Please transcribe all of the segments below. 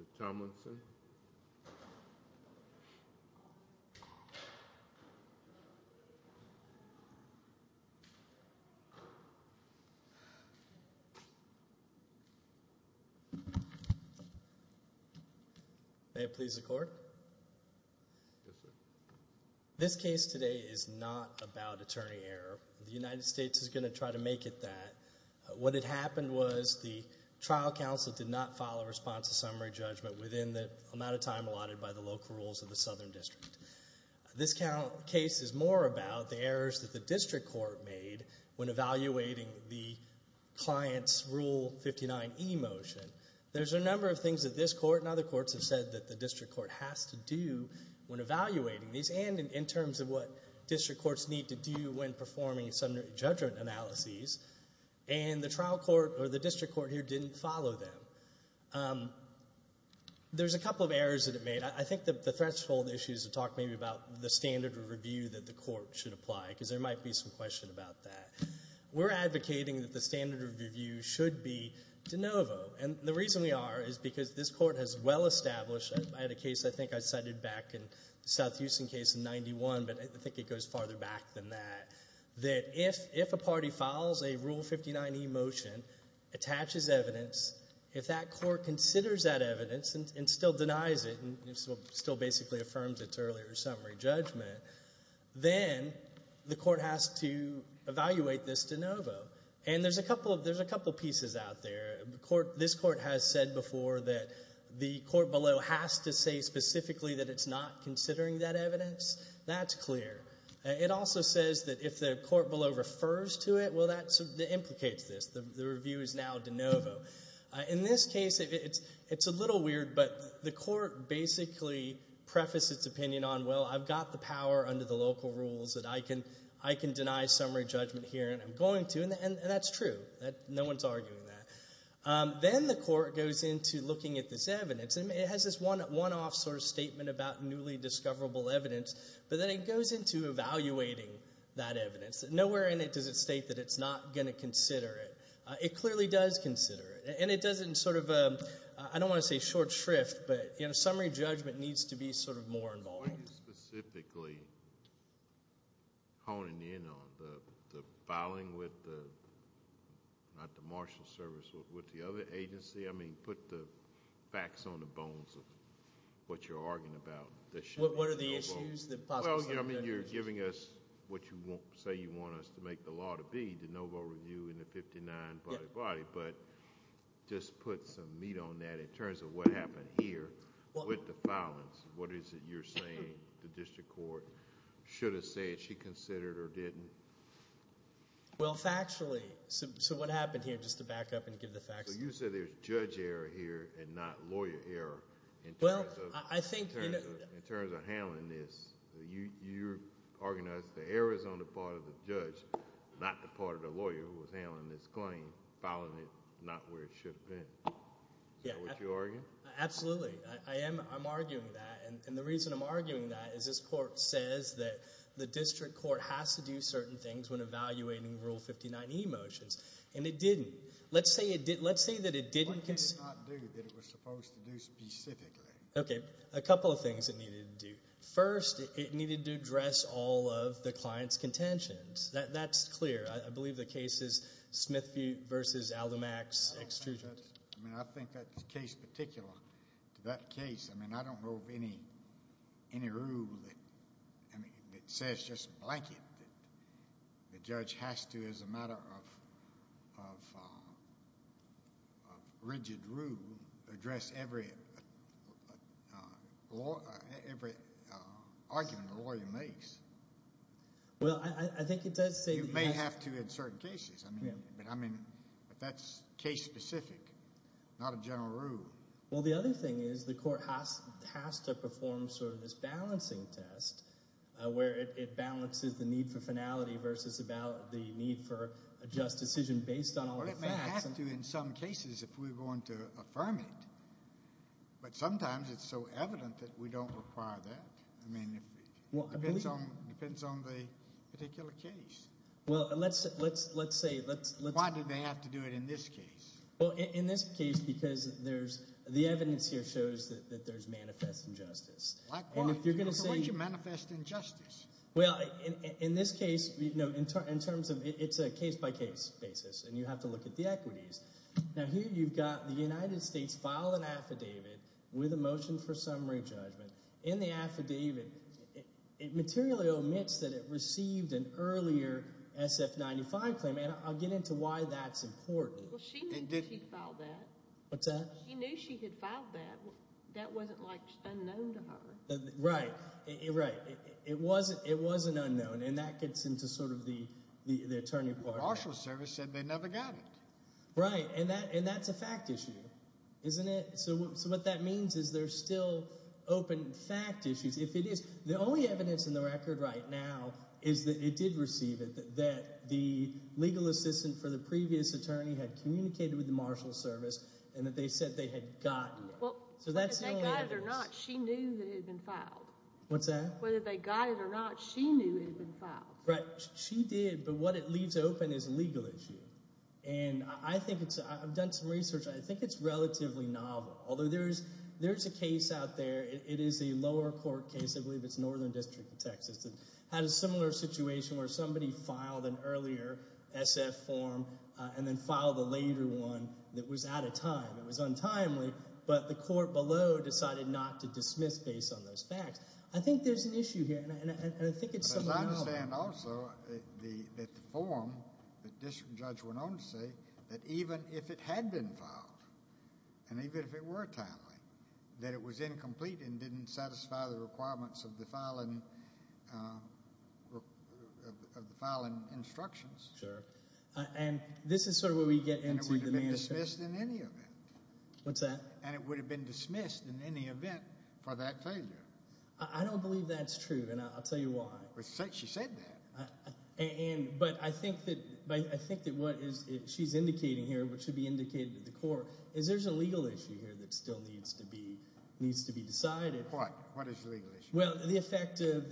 Mr. Tomlinson. May it please the court? Yes, sir. This case today is not about attorney error. The United States is going to try to make it that. What had happened was the trial counsel did not file a response to summary judgment within the amount of time allotted by the local rules of the Southern District. This case is more about the errors that the district court made when evaluating the client's Rule 59e motion. There's a number of things that this court and other courts have said that the district court has to do when evaluating these and in terms of what district courts need to do when performing summary judgment analyses. And the district court here didn't follow them. There's a couple of errors that it made. I think the threshold issue is to talk maybe about the standard of review that the court should apply because there might be some question about that. We're advocating that the standard of review should be de novo. And the reason we are is because this court has well established, I had a case I think I cited back in the South Houston case in 91, but I think it goes farther back than that, that if a party files a Rule 59e motion, attaches evidence, if that court considers that evidence and still denies it and still basically affirms its earlier summary judgment, then the court has to evaluate this de novo. And there's a couple of pieces out there. This court has said before that the court below has to say specifically that it's not considering that evidence. That's clear. It also says that if the court below refers to it, well, that implicates this. The review is now de novo. In this case, it's a little weird, but the court basically prefaced its opinion on, well, I've got the power under the local rules that I can deny summary judgment here, and I'm going to, and that's true. No one's arguing that. Then the court goes into looking at this evidence, and it has this one-off sort of statement about newly discoverable evidence, but then it goes into evaluating that evidence. Nowhere in it does it state that it's not going to consider it. It clearly does consider it, and it doesn't sort of, I don't want to say short shrift, but summary judgment needs to be sort of more involved. Why are you specifically honing in on the filing with the, not the marshal service, with the other agency? I mean put the facts on the bones of what you're arguing about. What are the issues? Well, I mean you're giving us what you say you want us to make the law to be, de novo review in the 59 body-to-body, but just put some meat on that in terms of what happened here with the filings. What is it you're saying the district court should have said she considered or didn't? Well, factually. So what happened here, just to back up and give the facts. So you said there's judge error here and not lawyer error in terms of handling this. You organized the errors on the part of the judge, not the part of the lawyer who was handling this claim, filing it not where it should have been. Is that what you're arguing? Absolutely. I'm arguing that. And the reason I'm arguing that is this court says that the district court has to do certain things when evaluating Rule 59e motions, and it didn't. Let's say that it didn't. What did it not do that it was supposed to do specifically? Okay, a couple of things it needed to do. First, it needed to address all of the client's contentions. That's clear. I believe the case is Smith v. Aldermax extrusions. I think that case in particular, that case, I don't know of any rule that says just blanket that the judge has to, as a matter of rigid rule, address every argument the lawyer makes. Well, I think it does say that you have to. You may have to in certain cases. But that's case specific, not a general rule. Well, the other thing is the court has to perform sort of this balancing test where it balances the need for finality versus the need for a just decision based on all the facts. Well, it may have to in some cases if we're going to affirm it. But sometimes it's so evident that we don't require that. I mean it depends on the particular case. Well, let's say. Why do they have to do it in this case? Well, in this case because the evidence here shows that there's manifest injustice. Why do you manifest injustice? Well, in this case, it's a case-by-case basis, and you have to look at the equities. Now here you've got the United States filing affidavit with a motion for summary judgment. In the affidavit, it materially omits that it received an earlier SF-95 claim, and I'll get into why that's important. Well, she knew she'd filed that. What's that? She knew she had filed that. That wasn't, like, unknown to her. Right, right. It wasn't unknown, and that gets into sort of the attorney part of that. The Marshals Service said they never got it. Right, and that's a fact issue, isn't it? So what that means is there's still open fact issues. If it is, the only evidence in the record right now is that it did receive it, that the legal assistant for the previous attorney had communicated with the Marshals Service and that they said they had gotten it. Well, whether they got it or not, she knew that it had been filed. What's that? Whether they got it or not, she knew it had been filed. Right, she did, but what it leaves open is a legal issue. I've done some research. I think it's relatively novel, although there's a case out there. It is a lower court case. I believe it's Northern District of Texas. It had a similar situation where somebody filed an earlier SF form and then filed a later one that was out of time. It was untimely, but the court below decided not to dismiss based on those facts. Because I understand also that the form that the district judge went on to say that even if it had been filed and even if it were timely, that it was incomplete and didn't satisfy the requirements of the filing instructions. Sure, and this is sort of where we get into the answer. It would have been dismissed in any event. What's that? And it would have been dismissed in any event for that failure. I don't believe that's true, and I'll tell you why. She said that. But I think that what she's indicating here, which should be indicated to the court, is there's a legal issue here that still needs to be decided. What? What is the legal issue? Well, the effect of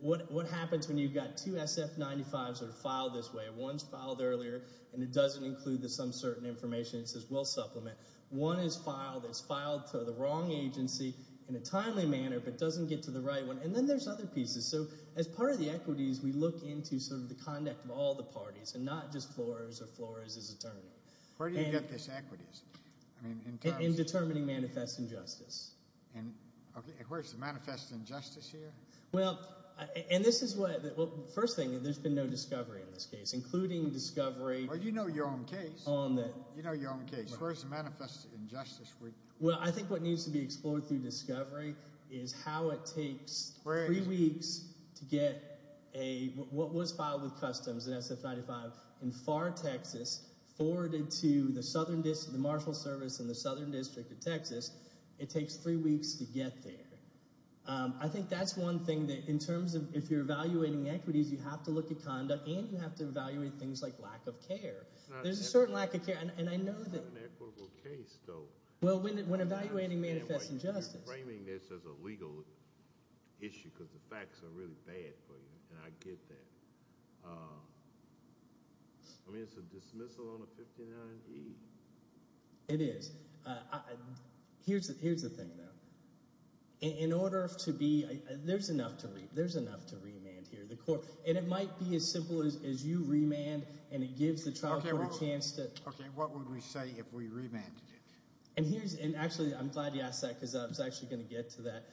what happens when you've got two SF-95s that are filed this way. One's filed earlier, and it doesn't include some certain information. It says we'll supplement. One is filed. It's filed to the wrong agency in a timely manner but doesn't get to the right one. And then there's other pieces. So as part of the equities, we look into sort of the conduct of all the parties and not just Flores or Flores' attorney. Where do you get this equities? In determining manifest injustice. And where's the manifest injustice here? Well, and this is what – first thing, there's been no discovery in this case, including discovery on the – Well, you know your own case. You know your own case. Where's the manifest injustice? Well, I think what needs to be explored through discovery is how it takes three weeks to get a – what was filed with customs in SF-95 in Pharr, Texas, forwarded to the Marshall Service in the Southern District of Texas. It takes three weeks to get there. I think that's one thing that in terms of if you're evaluating equities, you have to look at conduct and you have to evaluate things like lack of care. This is an equitable case, though. Well, when evaluating manifest injustice. You're framing this as a legal issue because the facts are really bad for you, and I get that. I mean, it's a dismissal on a 59E. It is. Here's the thing, though. In order to be – there's enough to remand here. And it might be as simple as you remand and it gives the trial court a chance to – Okay, what would we say if we remanded it? And here's – and actually I'm glad you asked that because I was actually going to get to that.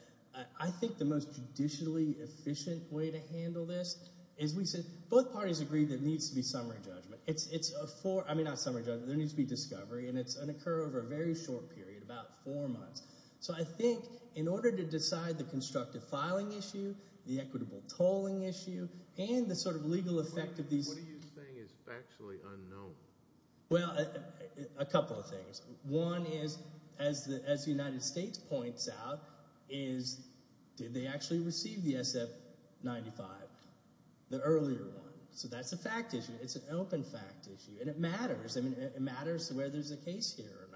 I think the most judicially efficient way to handle this is we said both parties agree there needs to be summary judgment. It's a four – I mean not summary judgment. There needs to be discovery, and it's going to occur over a very short period, about four months. So I think in order to decide the constructive filing issue, the equitable tolling issue, and the sort of legal effect of these – Well, a couple of things. One is, as the United States points out, is did they actually receive the SF-95, the earlier one? So that's a fact issue. It's an open fact issue, and it matters. I mean, it matters whether there's a case here or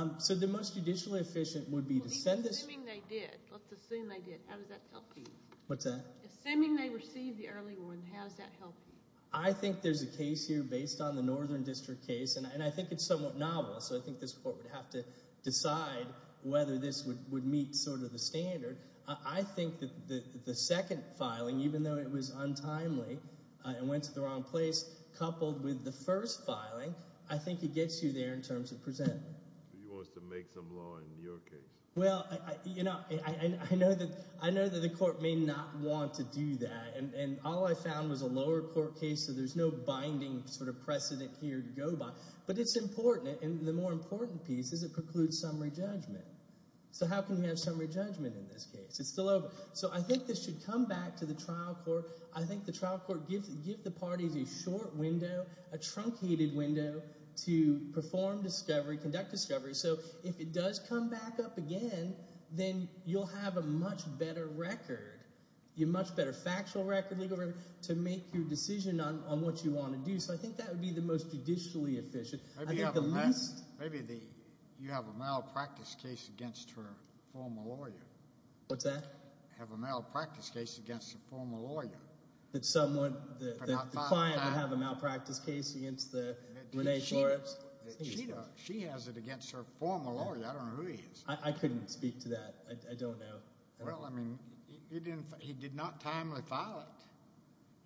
not. So the most judicially efficient would be to send this – Well, let's assume they did. Let's assume they did. How does that help you? What's that? Assuming they received the early one, how does that help you? I think there's a case here based on the Northern District case, and I think it's somewhat novel. So I think this court would have to decide whether this would meet sort of the standard. I think that the second filing, even though it was untimely and went to the wrong place, coupled with the first filing, I think it gets you there in terms of presenting. He wants to make some law in your case. Well, I know that the court may not want to do that, and all I found was a lower court case, so there's no binding sort of precedent here to go by. But it's important, and the more important piece is it precludes summary judgment. So how can we have summary judgment in this case? It's still open. So I think this should come back to the trial court. I think the trial court gives the parties a short window, a truncated window, to perform discovery, conduct discovery. So if it does come back up again, then you'll have a much better record, a much better factual record, legal record, to make your decision on what you want to do. So I think that would be the most judicially efficient. Maybe you have a malpractice case against her former lawyer. What's that? Have a malpractice case against her former lawyer. That someone, the client would have a malpractice case against the Renee Flores? She has it against her former lawyer. I don't know who he is. I couldn't speak to that. I don't know. Well, I mean, he did not timely file it.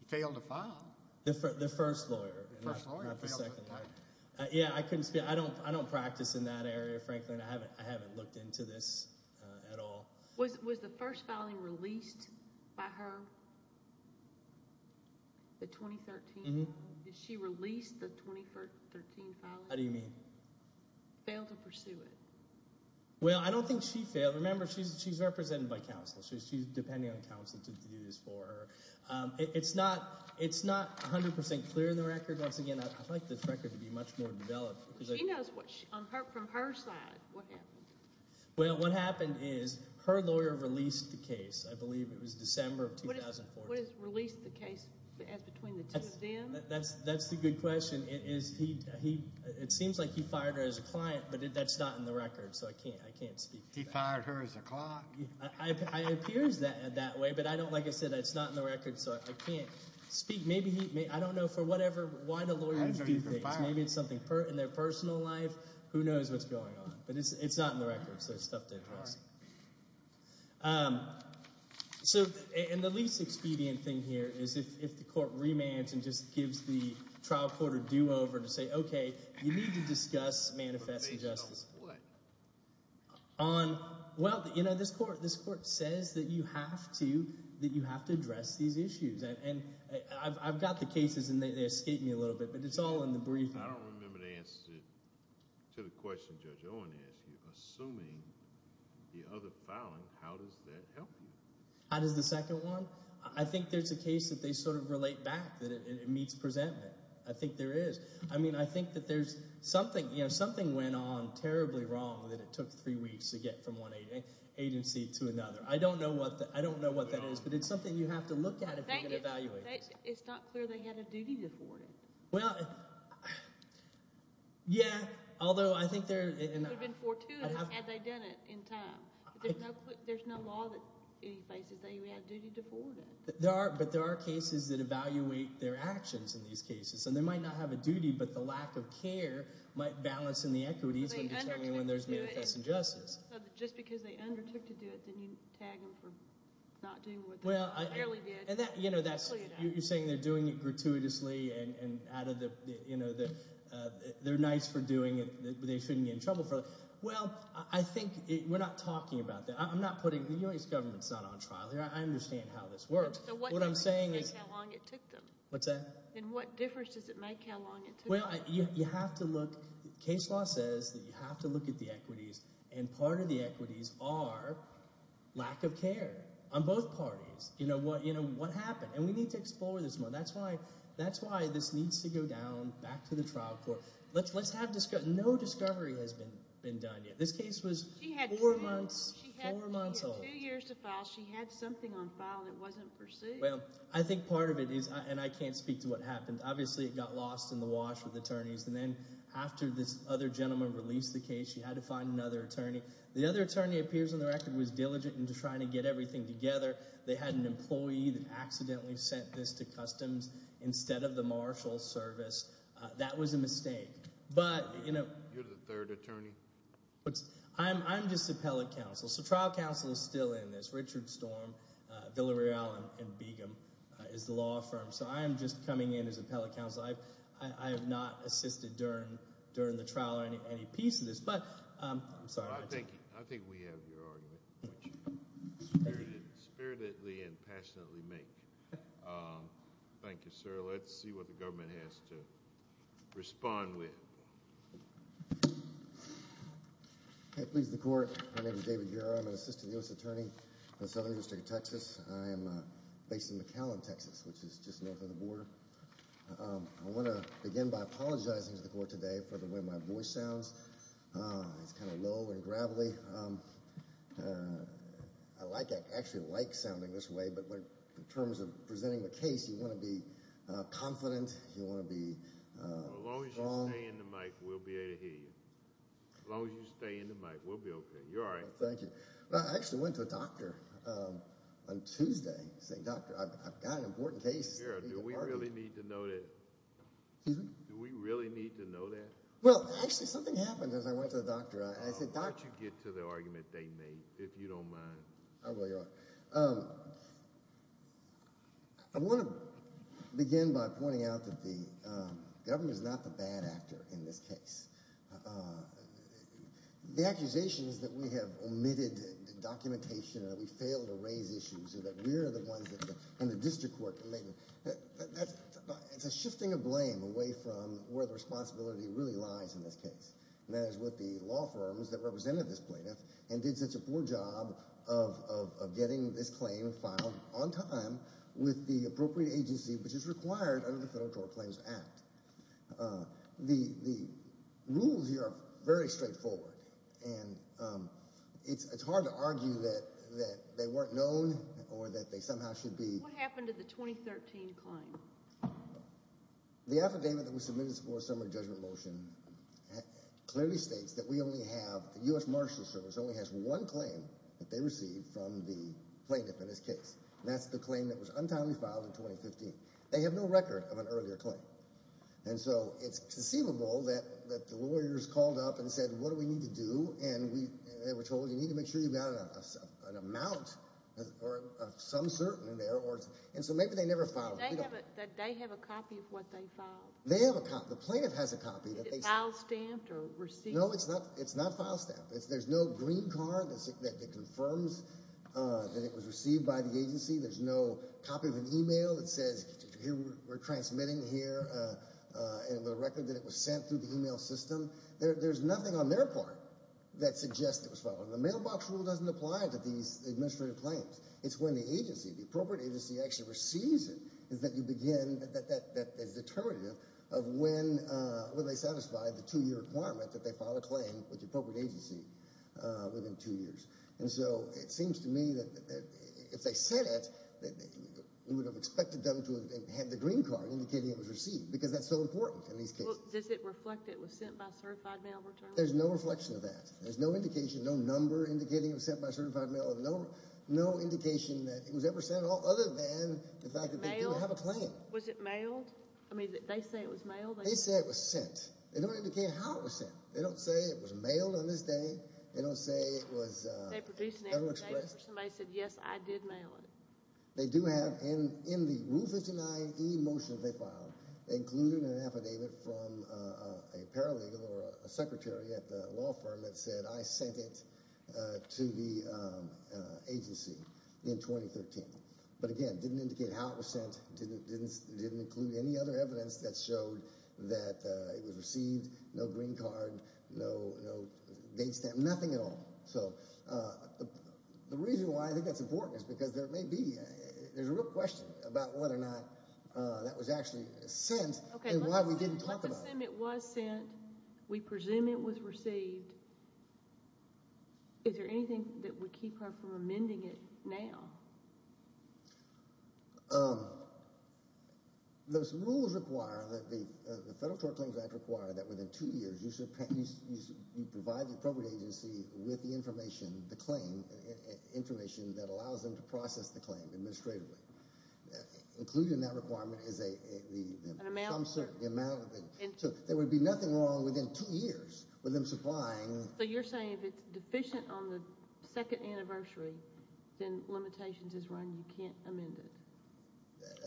He failed to file. The first lawyer, not the second lawyer. Yeah, I couldn't speak. I don't practice in that area, frankly, and I haven't looked into this at all. Was the first filing released by her, the 2013 filing? Did she release the 2013 filing? How do you mean? Failed to pursue it. Well, I don't think she failed. Remember, she's represented by counsel. She's depending on counsel to do this for her. It's not 100% clear in the record. Once again, I'd like this record to be much more developed. She knows from her side what happened. Well, what happened is her lawyer released the case. I believe it was December of 2014. What is released the case as between the two of them? That's the good question. It seems like he fired her as a client, but that's not in the record, so I can't speak to that. He fired her as a client. It appears that way, but like I said, it's not in the record, so I can't speak. I don't know for whatever reason a lawyer would do things. Maybe it's something in their personal life. Who knows what's going on? But it's not in the record, so it's tough to address. The least expedient thing here is if the court remands and just gives the trial court a do-over to say, okay, you need to discuss manifesting justice. On what? Well, this court says that you have to address these issues. I've got the cases, and they escape me a little bit, but it's all in the briefing. I don't remember the answer to the question Judge Owen asked you. Assuming the other filing, how does that help you? How does the second one? I think there's a case that they sort of relate back, that it meets presentment. I think there is. I mean, I think that there's something went on terribly wrong that it took three weeks to get from one agency to another. I don't know what that is, but it's something you have to look at if you're going to evaluate it. It's not clear they had a duty to forward it. Well, yeah, although I think they're – It would have been fortuitous had they done it in time. There's no law that any places they had a duty to forward it. But there are cases that evaluate their actions in these cases, and they might not have a duty, but the lack of care might balance in the equities when determining when there's manifest injustice. Just because they undertook to do it, then you tag them for not doing what they clearly did. You're saying they're doing it gratuitously and out of the – they're nice for doing it, but they shouldn't be in trouble for it. Well, I think we're not talking about that. I'm not putting – the U.S. government is not on trial here. I understand how this works. What I'm saying is – So what difference does it make how long it took them? What's that? What difference does it make how long it took them? Well, you have to look – case law says that you have to look at the equities, and part of the equities are lack of care on both parties. What happened? And we need to explore this more. That's why this needs to go down back to the trial court. Let's have – no discovery has been done yet. This case was four months old. She had two years to file. She had something on file that wasn't pursued. Well, I think part of it is – and I can't speak to what happened. Obviously, it got lost in the wash with attorneys. And then after this other gentleman released the case, she had to find another attorney. The other attorney, it appears on the record, was diligent in trying to get everything together. They had an employee that accidentally sent this to customs instead of the marshal service. That was a mistake. But – You're the third attorney. I'm just appellate counsel. So trial counsel is still in this. Richard Storm, Villareal, and Begum is the law firm. So I am just coming in as appellate counsel. I have not assisted during the trial or any piece of this. But – I'm sorry. I think we have your argument, which you spiritedly and passionately make. Thank you, sir. Let's see what the government has to respond with. Please, the court. My name is David Guerra. I'm an assistant U.S. attorney in the Southern District of Texas. I am based in McAllen, Texas, which is just north of the border. I want to begin by apologizing to the court today for the way my voice sounds. It's kind of low and gravelly. I like it. I actually like sounding this way. But in terms of presenting the case, you want to be confident. You want to be calm. As long as you stay in the mic, we'll be able to hear you. As long as you stay in the mic, we'll be okay. You're all right. Thank you. I actually went to a doctor on Tuesday saying, Doctor, I've got an important case. Do we really need to know that? Excuse me? Do we really need to know that? Well, actually, something happened as I went to the doctor. Why don't you get to the argument they made, if you don't mind. I will, Your Honor. I want to begin by pointing out that the government is not the bad actor in this case. The accusation is that we have omitted documentation and that we failed to raise issues and that we're the ones in the district court. It's a shifting of blame away from where the responsibility really lies in this case, and that is with the law firms that represented this plaintiff and did such a poor job of getting this claim filed on time with the appropriate agency, which is required under the Federal Court of Claims Act. The rules here are very straightforward, and it's hard to argue that they weren't known or that they somehow should be. What happened to the 2013 claim? The affidavit that was submitted for a summary judgment motion clearly states that we only have the U.S. Marshals Service only has one claim that they received from the plaintiff in this case, and that's the claim that was untimely filed in 2015. They have no record of an earlier claim. And so it's conceivable that the lawyers called up and said, what do we need to do, and they were told you need to make sure you've got an amount of some certain in there, and so maybe they never filed it. Did they have a copy of what they filed? They have a copy. The plaintiff has a copy. Is it file stamped or received? No, it's not file stamped. There's no green card that confirms that it was received by the agency. There's no copy of an e-mail that says we're transmitting here and the record that it was sent through the e-mail system. There's nothing on their part that suggests it was filed. The mailbox rule doesn't apply to these administrative claims. It's when the agency, the appropriate agency actually receives it, is that you begin that determinative of when they satisfy the two-year requirement that they file a claim with the appropriate agency within two years. And so it seems to me that if they said it, we would have expected them to have had the green card indicating it was received because that's so important in these cases. Does it reflect it was sent by certified mail return? There's no reflection of that. There's no indication, no number indicating it was sent by certified mail, no indication that it was ever sent other than the fact that they do have a claim. Was it mailed? I mean, they say it was mailed. They say it was sent. They don't indicate how it was sent. They don't say it was mailed on this day. They don't say it was ever expressed. Somebody said, yes, I did mail it. They do have, in the Rule 59e motion they filed, they included an affidavit from a paralegal or a secretary at the law firm that said I sent it to the agency in 2013. But, again, it didn't indicate how it was sent. It didn't include any other evidence that showed that it was received, no green card, no date stamp, nothing at all. So the reason why I think that's important is because there may be, there's a real question about whether or not that was actually sent and why we didn't talk about it. Okay, let's assume it was sent. We presume it was received. Is there anything that would keep her from amending it now? Those rules require that the Federal Tort Claims Act require that within two years you provide the appropriate agency with the information, the claim information that allows them to process the claim administratively. Included in that requirement is a An amount, sir. So there would be nothing wrong within two years with them supplying So you're saying if it's deficient on the second anniversary, then limitations is run, you can't amend it.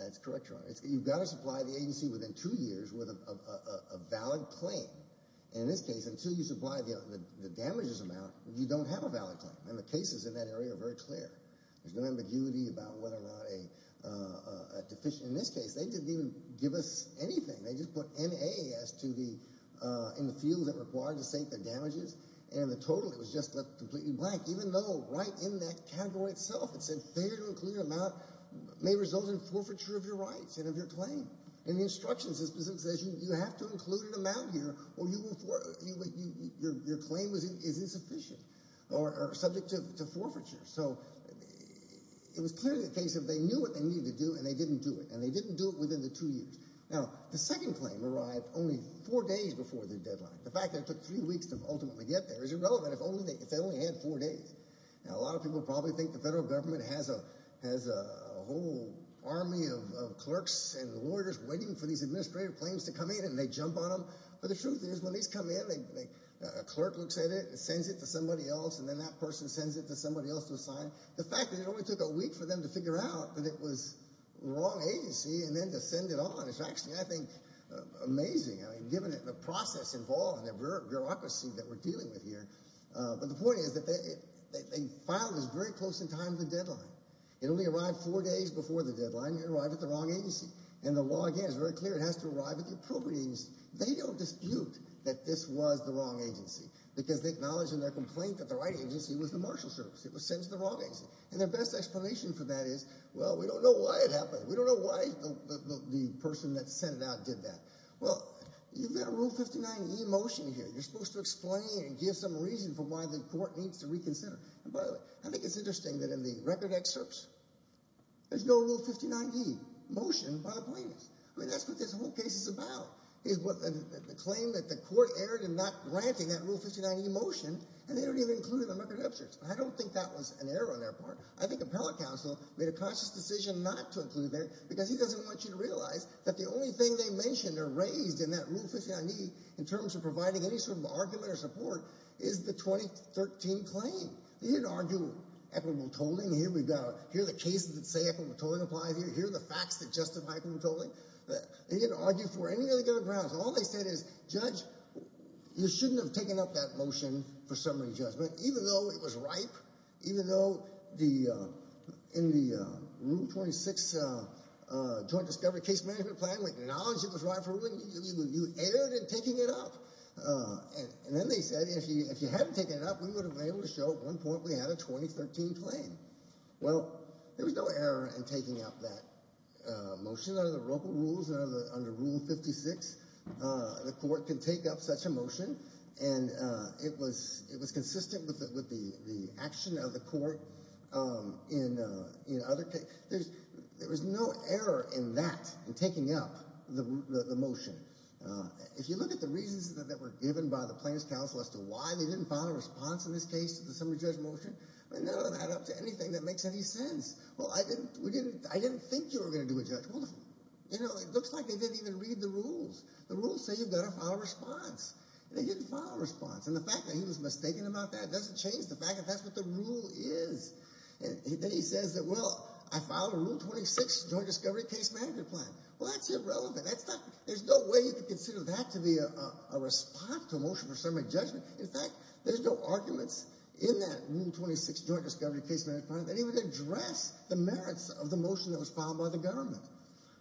That's correct, Your Honor. You've got to supply the agency within two years with a valid claim. In this case, until you supply the damages amount, you don't have a valid claim. And the cases in that area are very clear. There's no ambiguity about whether or not a deficient. In this case, they didn't even give us anything. They just put N-A-S in the field that required to state the damages. And the total, it was just left completely blank, even though right in that category itself it said Failure to include an amount may result in forfeiture of your rights and of your claim. In the instructions, it says you have to include an amount here or your claim is insufficient or subject to forfeiture. So it was clearly the case that they knew what they needed to do and they didn't do it. And they didn't do it within the two years. Now, the second claim arrived only four days before the deadline. The fact that it took three weeks to ultimately get there is irrelevant if they only had four days. Now, a lot of people probably think the federal government has a whole army of clerks and lawyers waiting for these administrative claims to come in and they jump on them. But the truth is when these come in, a clerk looks at it and sends it to somebody else and then that person sends it to somebody else to assign. The fact that it only took a week for them to figure out that it was the wrong agency and then to send it on is actually, I think, amazing. I mean, given the process involved and the bureaucracy that we're dealing with here. But the point is that they filed this very close in time to the deadline. It only arrived four days before the deadline. It arrived at the wrong agency. And the law, again, is very clear. It has to arrive at the appropriate agency. They don't dispute that this was the wrong agency because they acknowledge in their complaint that the right agency was the marshal service. It was sent to the wrong agency. And their best explanation for that is, well, we don't know why it happened. We don't know why the person that sent it out did that. Well, you've got a Rule 59e motion here. You're supposed to explain and give some reason for why the court needs to reconsider. And, by the way, I think it's interesting that in the record excerpts, there's no Rule 59e motion by the plaintiffs. I mean, that's what this whole case is about. The claim that the court erred in not granting that Rule 59e motion and they don't even include it in the record excerpts. I don't think that was an error on their part. I think appellate counsel made a conscious decision not to include it because he doesn't want you to realize that the only thing they mentioned or raised in that Rule 59e in terms of providing any sort of argument or support is the 2013 claim. They didn't argue equitable tolling. Here are the cases that say equitable tolling applies here. Here are the facts that justify equitable tolling. They didn't argue for any other grounds. All they said is, Judge, you shouldn't have taken up that motion for summary judgment, even though it was ripe, even though in the Rule 26 Joint Discovery Case Management Plan, with the knowledge it was ripe for ruling, you erred in taking it up. And then they said, if you hadn't taken it up, we would have been able to show at one point we had a 2013 claim. Well, there was no error in taking up that motion. Under the local rules, under Rule 56, the court can take up such a motion, and it was consistent with the action of the court in other cases. There was no error in that, in taking up the motion. If you look at the reasons that were given by the plaintiff's counsel as to why they didn't file a response in this case to the summary judgment motion, none of that adds up to anything that makes any sense. Well, I didn't think you were going to do a judgment. You know, it looks like they didn't even read the rules. The rules say you've got to file a response. They didn't file a response. And the fact that he was mistaken about that doesn't change the fact that that's what the rule is. Then he says that, well, I filed a Rule 26 Joint Discovery Case Management Plan. Well, that's irrelevant. There's no way you could consider that to be a response to a motion for summary judgment. In fact, there's no arguments in that Rule 26 Joint Discovery Case Management Plan that even address the merits of the motion that was filed by the government.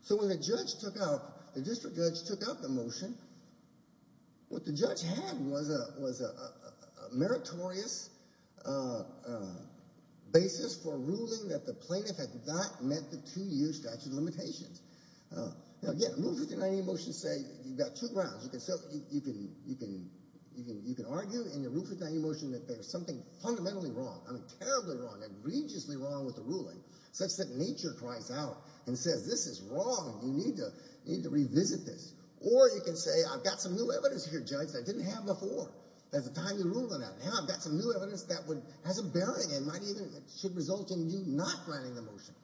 So when the judge took out, the district judge took out the motion, what the judge had was a meritorious basis for ruling that the plaintiff had not met the two-year statute of limitations. Now, again, Rule 59A motions say you've got two grounds. You can argue in your Rule 59A motion that there's something fundamentally wrong, I mean terribly wrong, egregiously wrong with the ruling, such that nature cries out and says this is wrong. You need to revisit this. Or you can say I've got some new evidence here, judge, that I didn't have before. There's a timely ruling on that. Now I've got some new evidence that has a bearing and might even should result in you not granting the motion.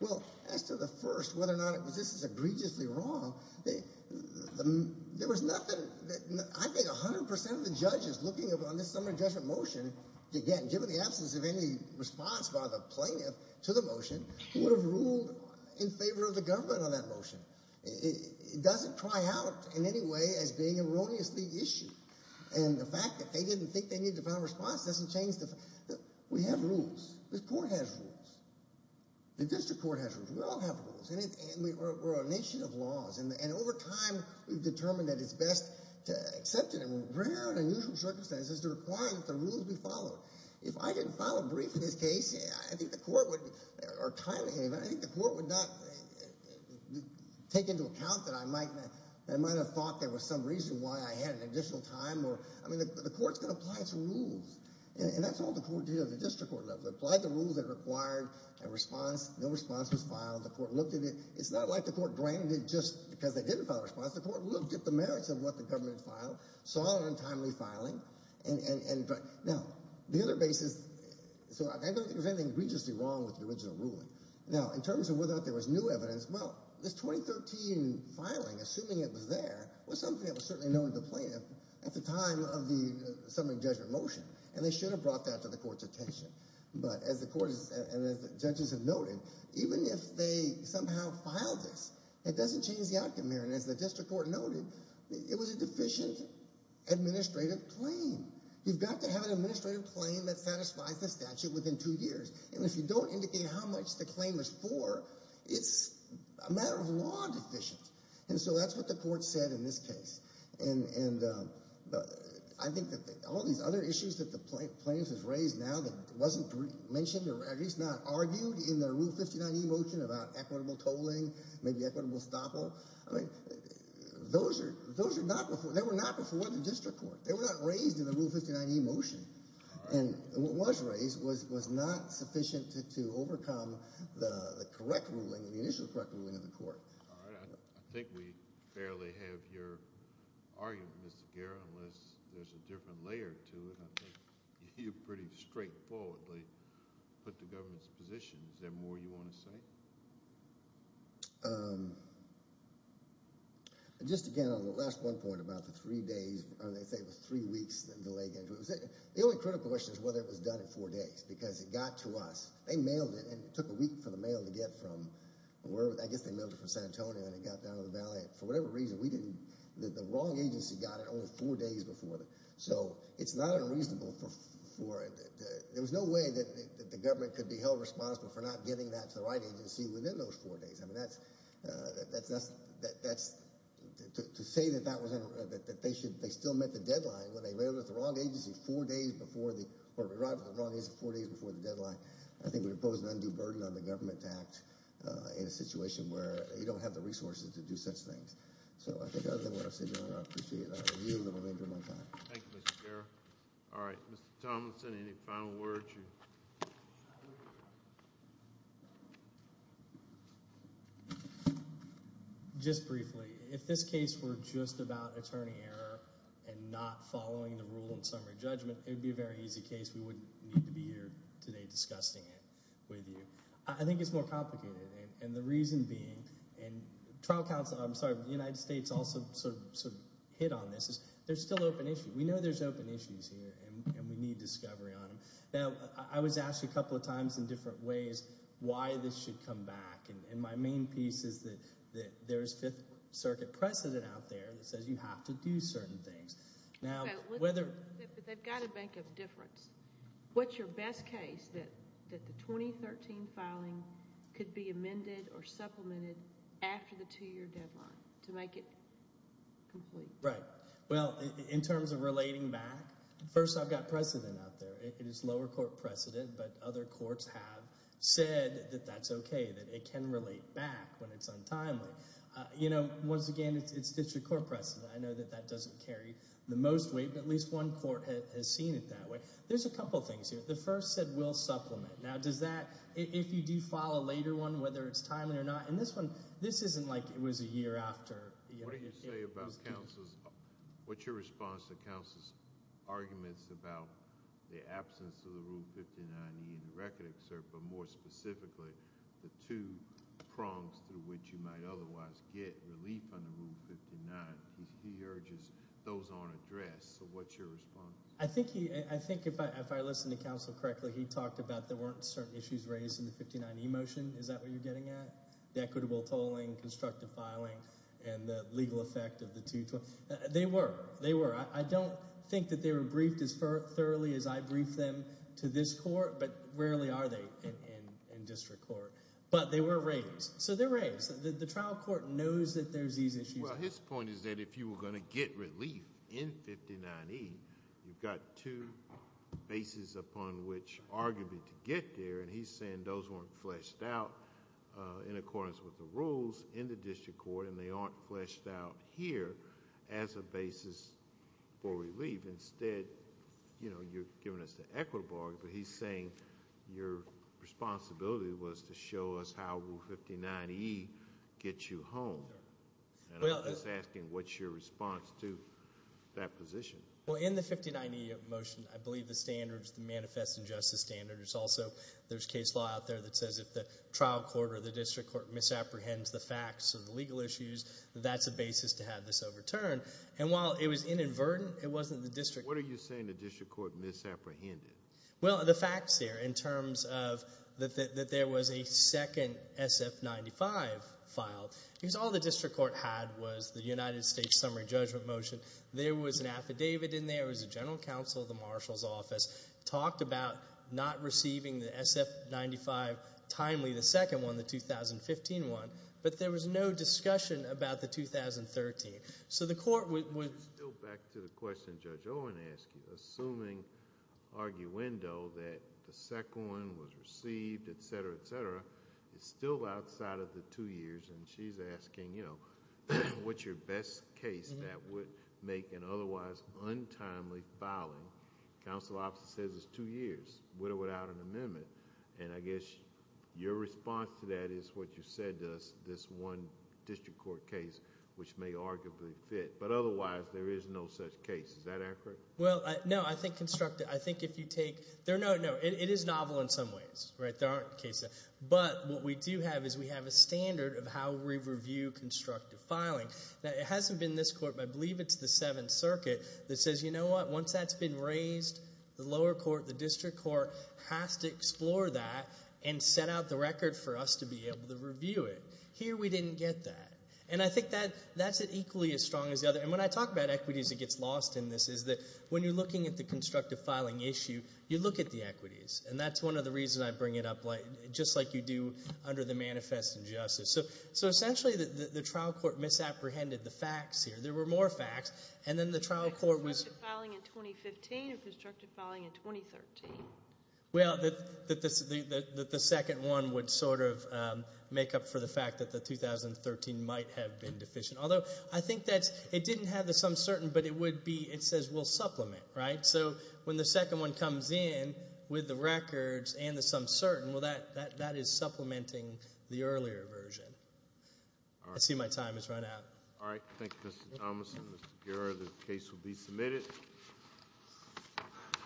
Well, as to the first, whether or not this is egregiously wrong, there was nothing that I think 100 percent of the judges looking on this summary judgment motion, again, given the absence of any response by the plaintiff to the motion, would have ruled in favor of the government on that motion. It doesn't cry out in any way as being erroneously issued. And the fact that they didn't think they needed to file a response doesn't change the fact. We have rules. This court has rules. The district court has rules. We all have rules. And we're a nation of laws. And over time, we've determined that it's best to accept it. And rare and unusual circumstances to require that the rules be followed. If I didn't file a brief in this case, I think the court would, or timely, I think the court would not take into account that I might have thought there was some reason why I had an additional time. I mean, the court's going to apply its rules. And that's all the court did at the district court level. It applied the rules that required a response. No response was filed. The court looked at it. It's not like the court granted it just because they didn't file a response. The court looked at the merits of what the government filed, saw it on timely filing. Now, the other basis, so I don't think there's anything egregiously wrong with the original ruling. Now, in terms of whether or not there was new evidence, well, this 2013 filing, assuming it was there, was something that was certainly known to the plaintiff at the time of the summary judgment motion. And they should have brought that to the court's attention. But as the court and as the judges have noted, even if they somehow filed this, it doesn't change the outcome here. And as the district court noted, it was a deficient administrative claim. You've got to have an administrative claim that satisfies the statute within two years. And if you don't indicate how much the claim was for, it's a matter of law deficient. And so that's what the court said in this case. And I think that all these other issues that the plaintiff has raised now that wasn't mentioned or at least not argued in the Rule 59e motion about equitable tolling, maybe equitable stoppel, I mean, those were not before the district court. They were not raised in the Rule 59e motion. And what was raised was not sufficient to overcome the correct ruling, the initial correct ruling of the court. All right. I think we fairly have your argument, Mr. Guerra, unless there's a different layer to it. I think you pretty straightforwardly put the government's position. Is there more you want to say? Just again on the last one point about the three days, or they say it was three weeks, the delay. The only critical question is whether it was done in four days because it got to us. They mailed it, and it took a week for the mail to get from wherever. I guess they mailed it from San Antonio, and it got down to the valley. For whatever reason, we didn't – the wrong agency got it only four days before. So it's not unreasonable for – there was no way that the government could be held responsible for not getting that to the right agency within those four days. I mean, that's – to say that that was – that they should – they still met the deadline when they mailed it to the wrong agency four days before the – or arrived at the wrong agency four days before the deadline, I think would impose an undue burden on the government to act in a situation where you don't have the resources to do such things. So I think other than what I've said, Your Honor, I appreciate that. Thank you, Mr. Guerra. All right. Mr. Tomlinson, any final words? Just briefly, if this case were just about attorney error and not following the rule in summary judgment, it would be a very easy case. We wouldn't need to be here today discussing it with you. I think it's more complicated, and the reason being – and trial counsel – I'm sorry, the United States also sort of hit on this – is there's still open issue. We know there's open issues here, and we need discovery on them. Now, I was asked a couple of times in different ways why this should come back, and my main piece is that there's Fifth Circuit precedent out there that says you have to do certain things. Now, whether – But they've got to make a difference. What's your best case that the 2013 filing could be amended or supplemented after the two-year deadline to make it complete? Right. Well, in terms of relating back, first I've got precedent out there. It is lower court precedent, but other courts have said that that's okay, that it can relate back when it's untimely. Once again, it's district court precedent. I know that that doesn't carry the most weight, but at least one court has seen it that way. There's a couple of things here. The first said we'll supplement. Now, does that – if you do file a later one, whether it's timely or not – and this one, this isn't like it was a year after. What do you say about counsel's – what's your response to counsel's arguments about the absence of the Rule 59E in the record, sir, but more specifically the two prongs through which you might otherwise get relief under Rule 59? He urges those aren't addressed, so what's your response? I think if I listen to counsel correctly, he talked about there weren't certain issues raised in the 59E motion. Is that what you're getting at? The equitable tolling, constructive filing, and the legal effect of the two – they were. I don't think that they were briefed as thoroughly as I briefed them to this court, but rarely are they in district court. But they were raised, so they're raised. The trial court knows that there's these issues. Well, his point is that if you were going to get relief in 59E, you've got two bases upon which arguably to get there, and he's saying those weren't fleshed out in accordance with the rules in the district court, and they aren't fleshed out here as a basis for relief. Instead, you're giving us the equitable argument, but he's saying your responsibility was to show us how Rule 59E gets you home. And I'm just asking what's your response to that position? Well, in the 59E motion, I believe the standards, the manifest injustice standards, also there's case law out there that says if the trial court or the district court misapprehends the facts of the legal issues, that that's a basis to have this overturned. And while it was inadvertent, it wasn't the district court. What are you saying the district court misapprehended? Well, the facts there in terms of that there was a second SF-95 file. Because all the district court had was the United States summary judgment motion. There was an affidavit in there. It was the general counsel of the marshal's office. It talked about not receiving the SF-95 timely, the second one, the 2015 one, but there was no discussion about the 2013. So the court would— Let's go back to the question Judge Owen asked you. Assuming, arguendo, that the second one was received, et cetera, et cetera, it's still outside of the two years, and she's asking, you know, what's your best case that would make an otherwise untimely filing? Counsel's office says it's two years, with or without an amendment. And I guess your response to that is what you said to us, this one district court case, which may arguably fit. But otherwise, there is no such case. Is that accurate? Well, no. I think constructive—I think if you take—no, no. It is novel in some ways, right? There aren't cases. But what we do have is we have a standard of how we review constructive filing. Now, it hasn't been this court, but I believe it's the Seventh Circuit that says, you know what? Once that's been raised, the lower court, the district court has to explore that and set out the record for us to be able to review it. Here we didn't get that. And I think that's equally as strong as the other. And when I talk about equities, it gets lost in this, is that when you're looking at the constructive filing issue, you look at the equities. And that's one of the reasons I bring it up, just like you do under the manifest injustice. So essentially, the trial court misapprehended the facts here. There were more facts, and then the trial court was— Was it constructive filing in 2015 or constructive filing in 2013? Well, the second one would sort of make up for the fact that the 2013 might have been deficient. Although, I think that it didn't have the some certain, but it says we'll supplement, right? So when the second one comes in with the records and the some certain, well, that is supplementing the earlier version. I see my time has run out. All right. Thank you, Mr. Thomason. Mr. Guerra, the case will be submitted.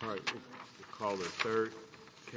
All right. We'll call the third case.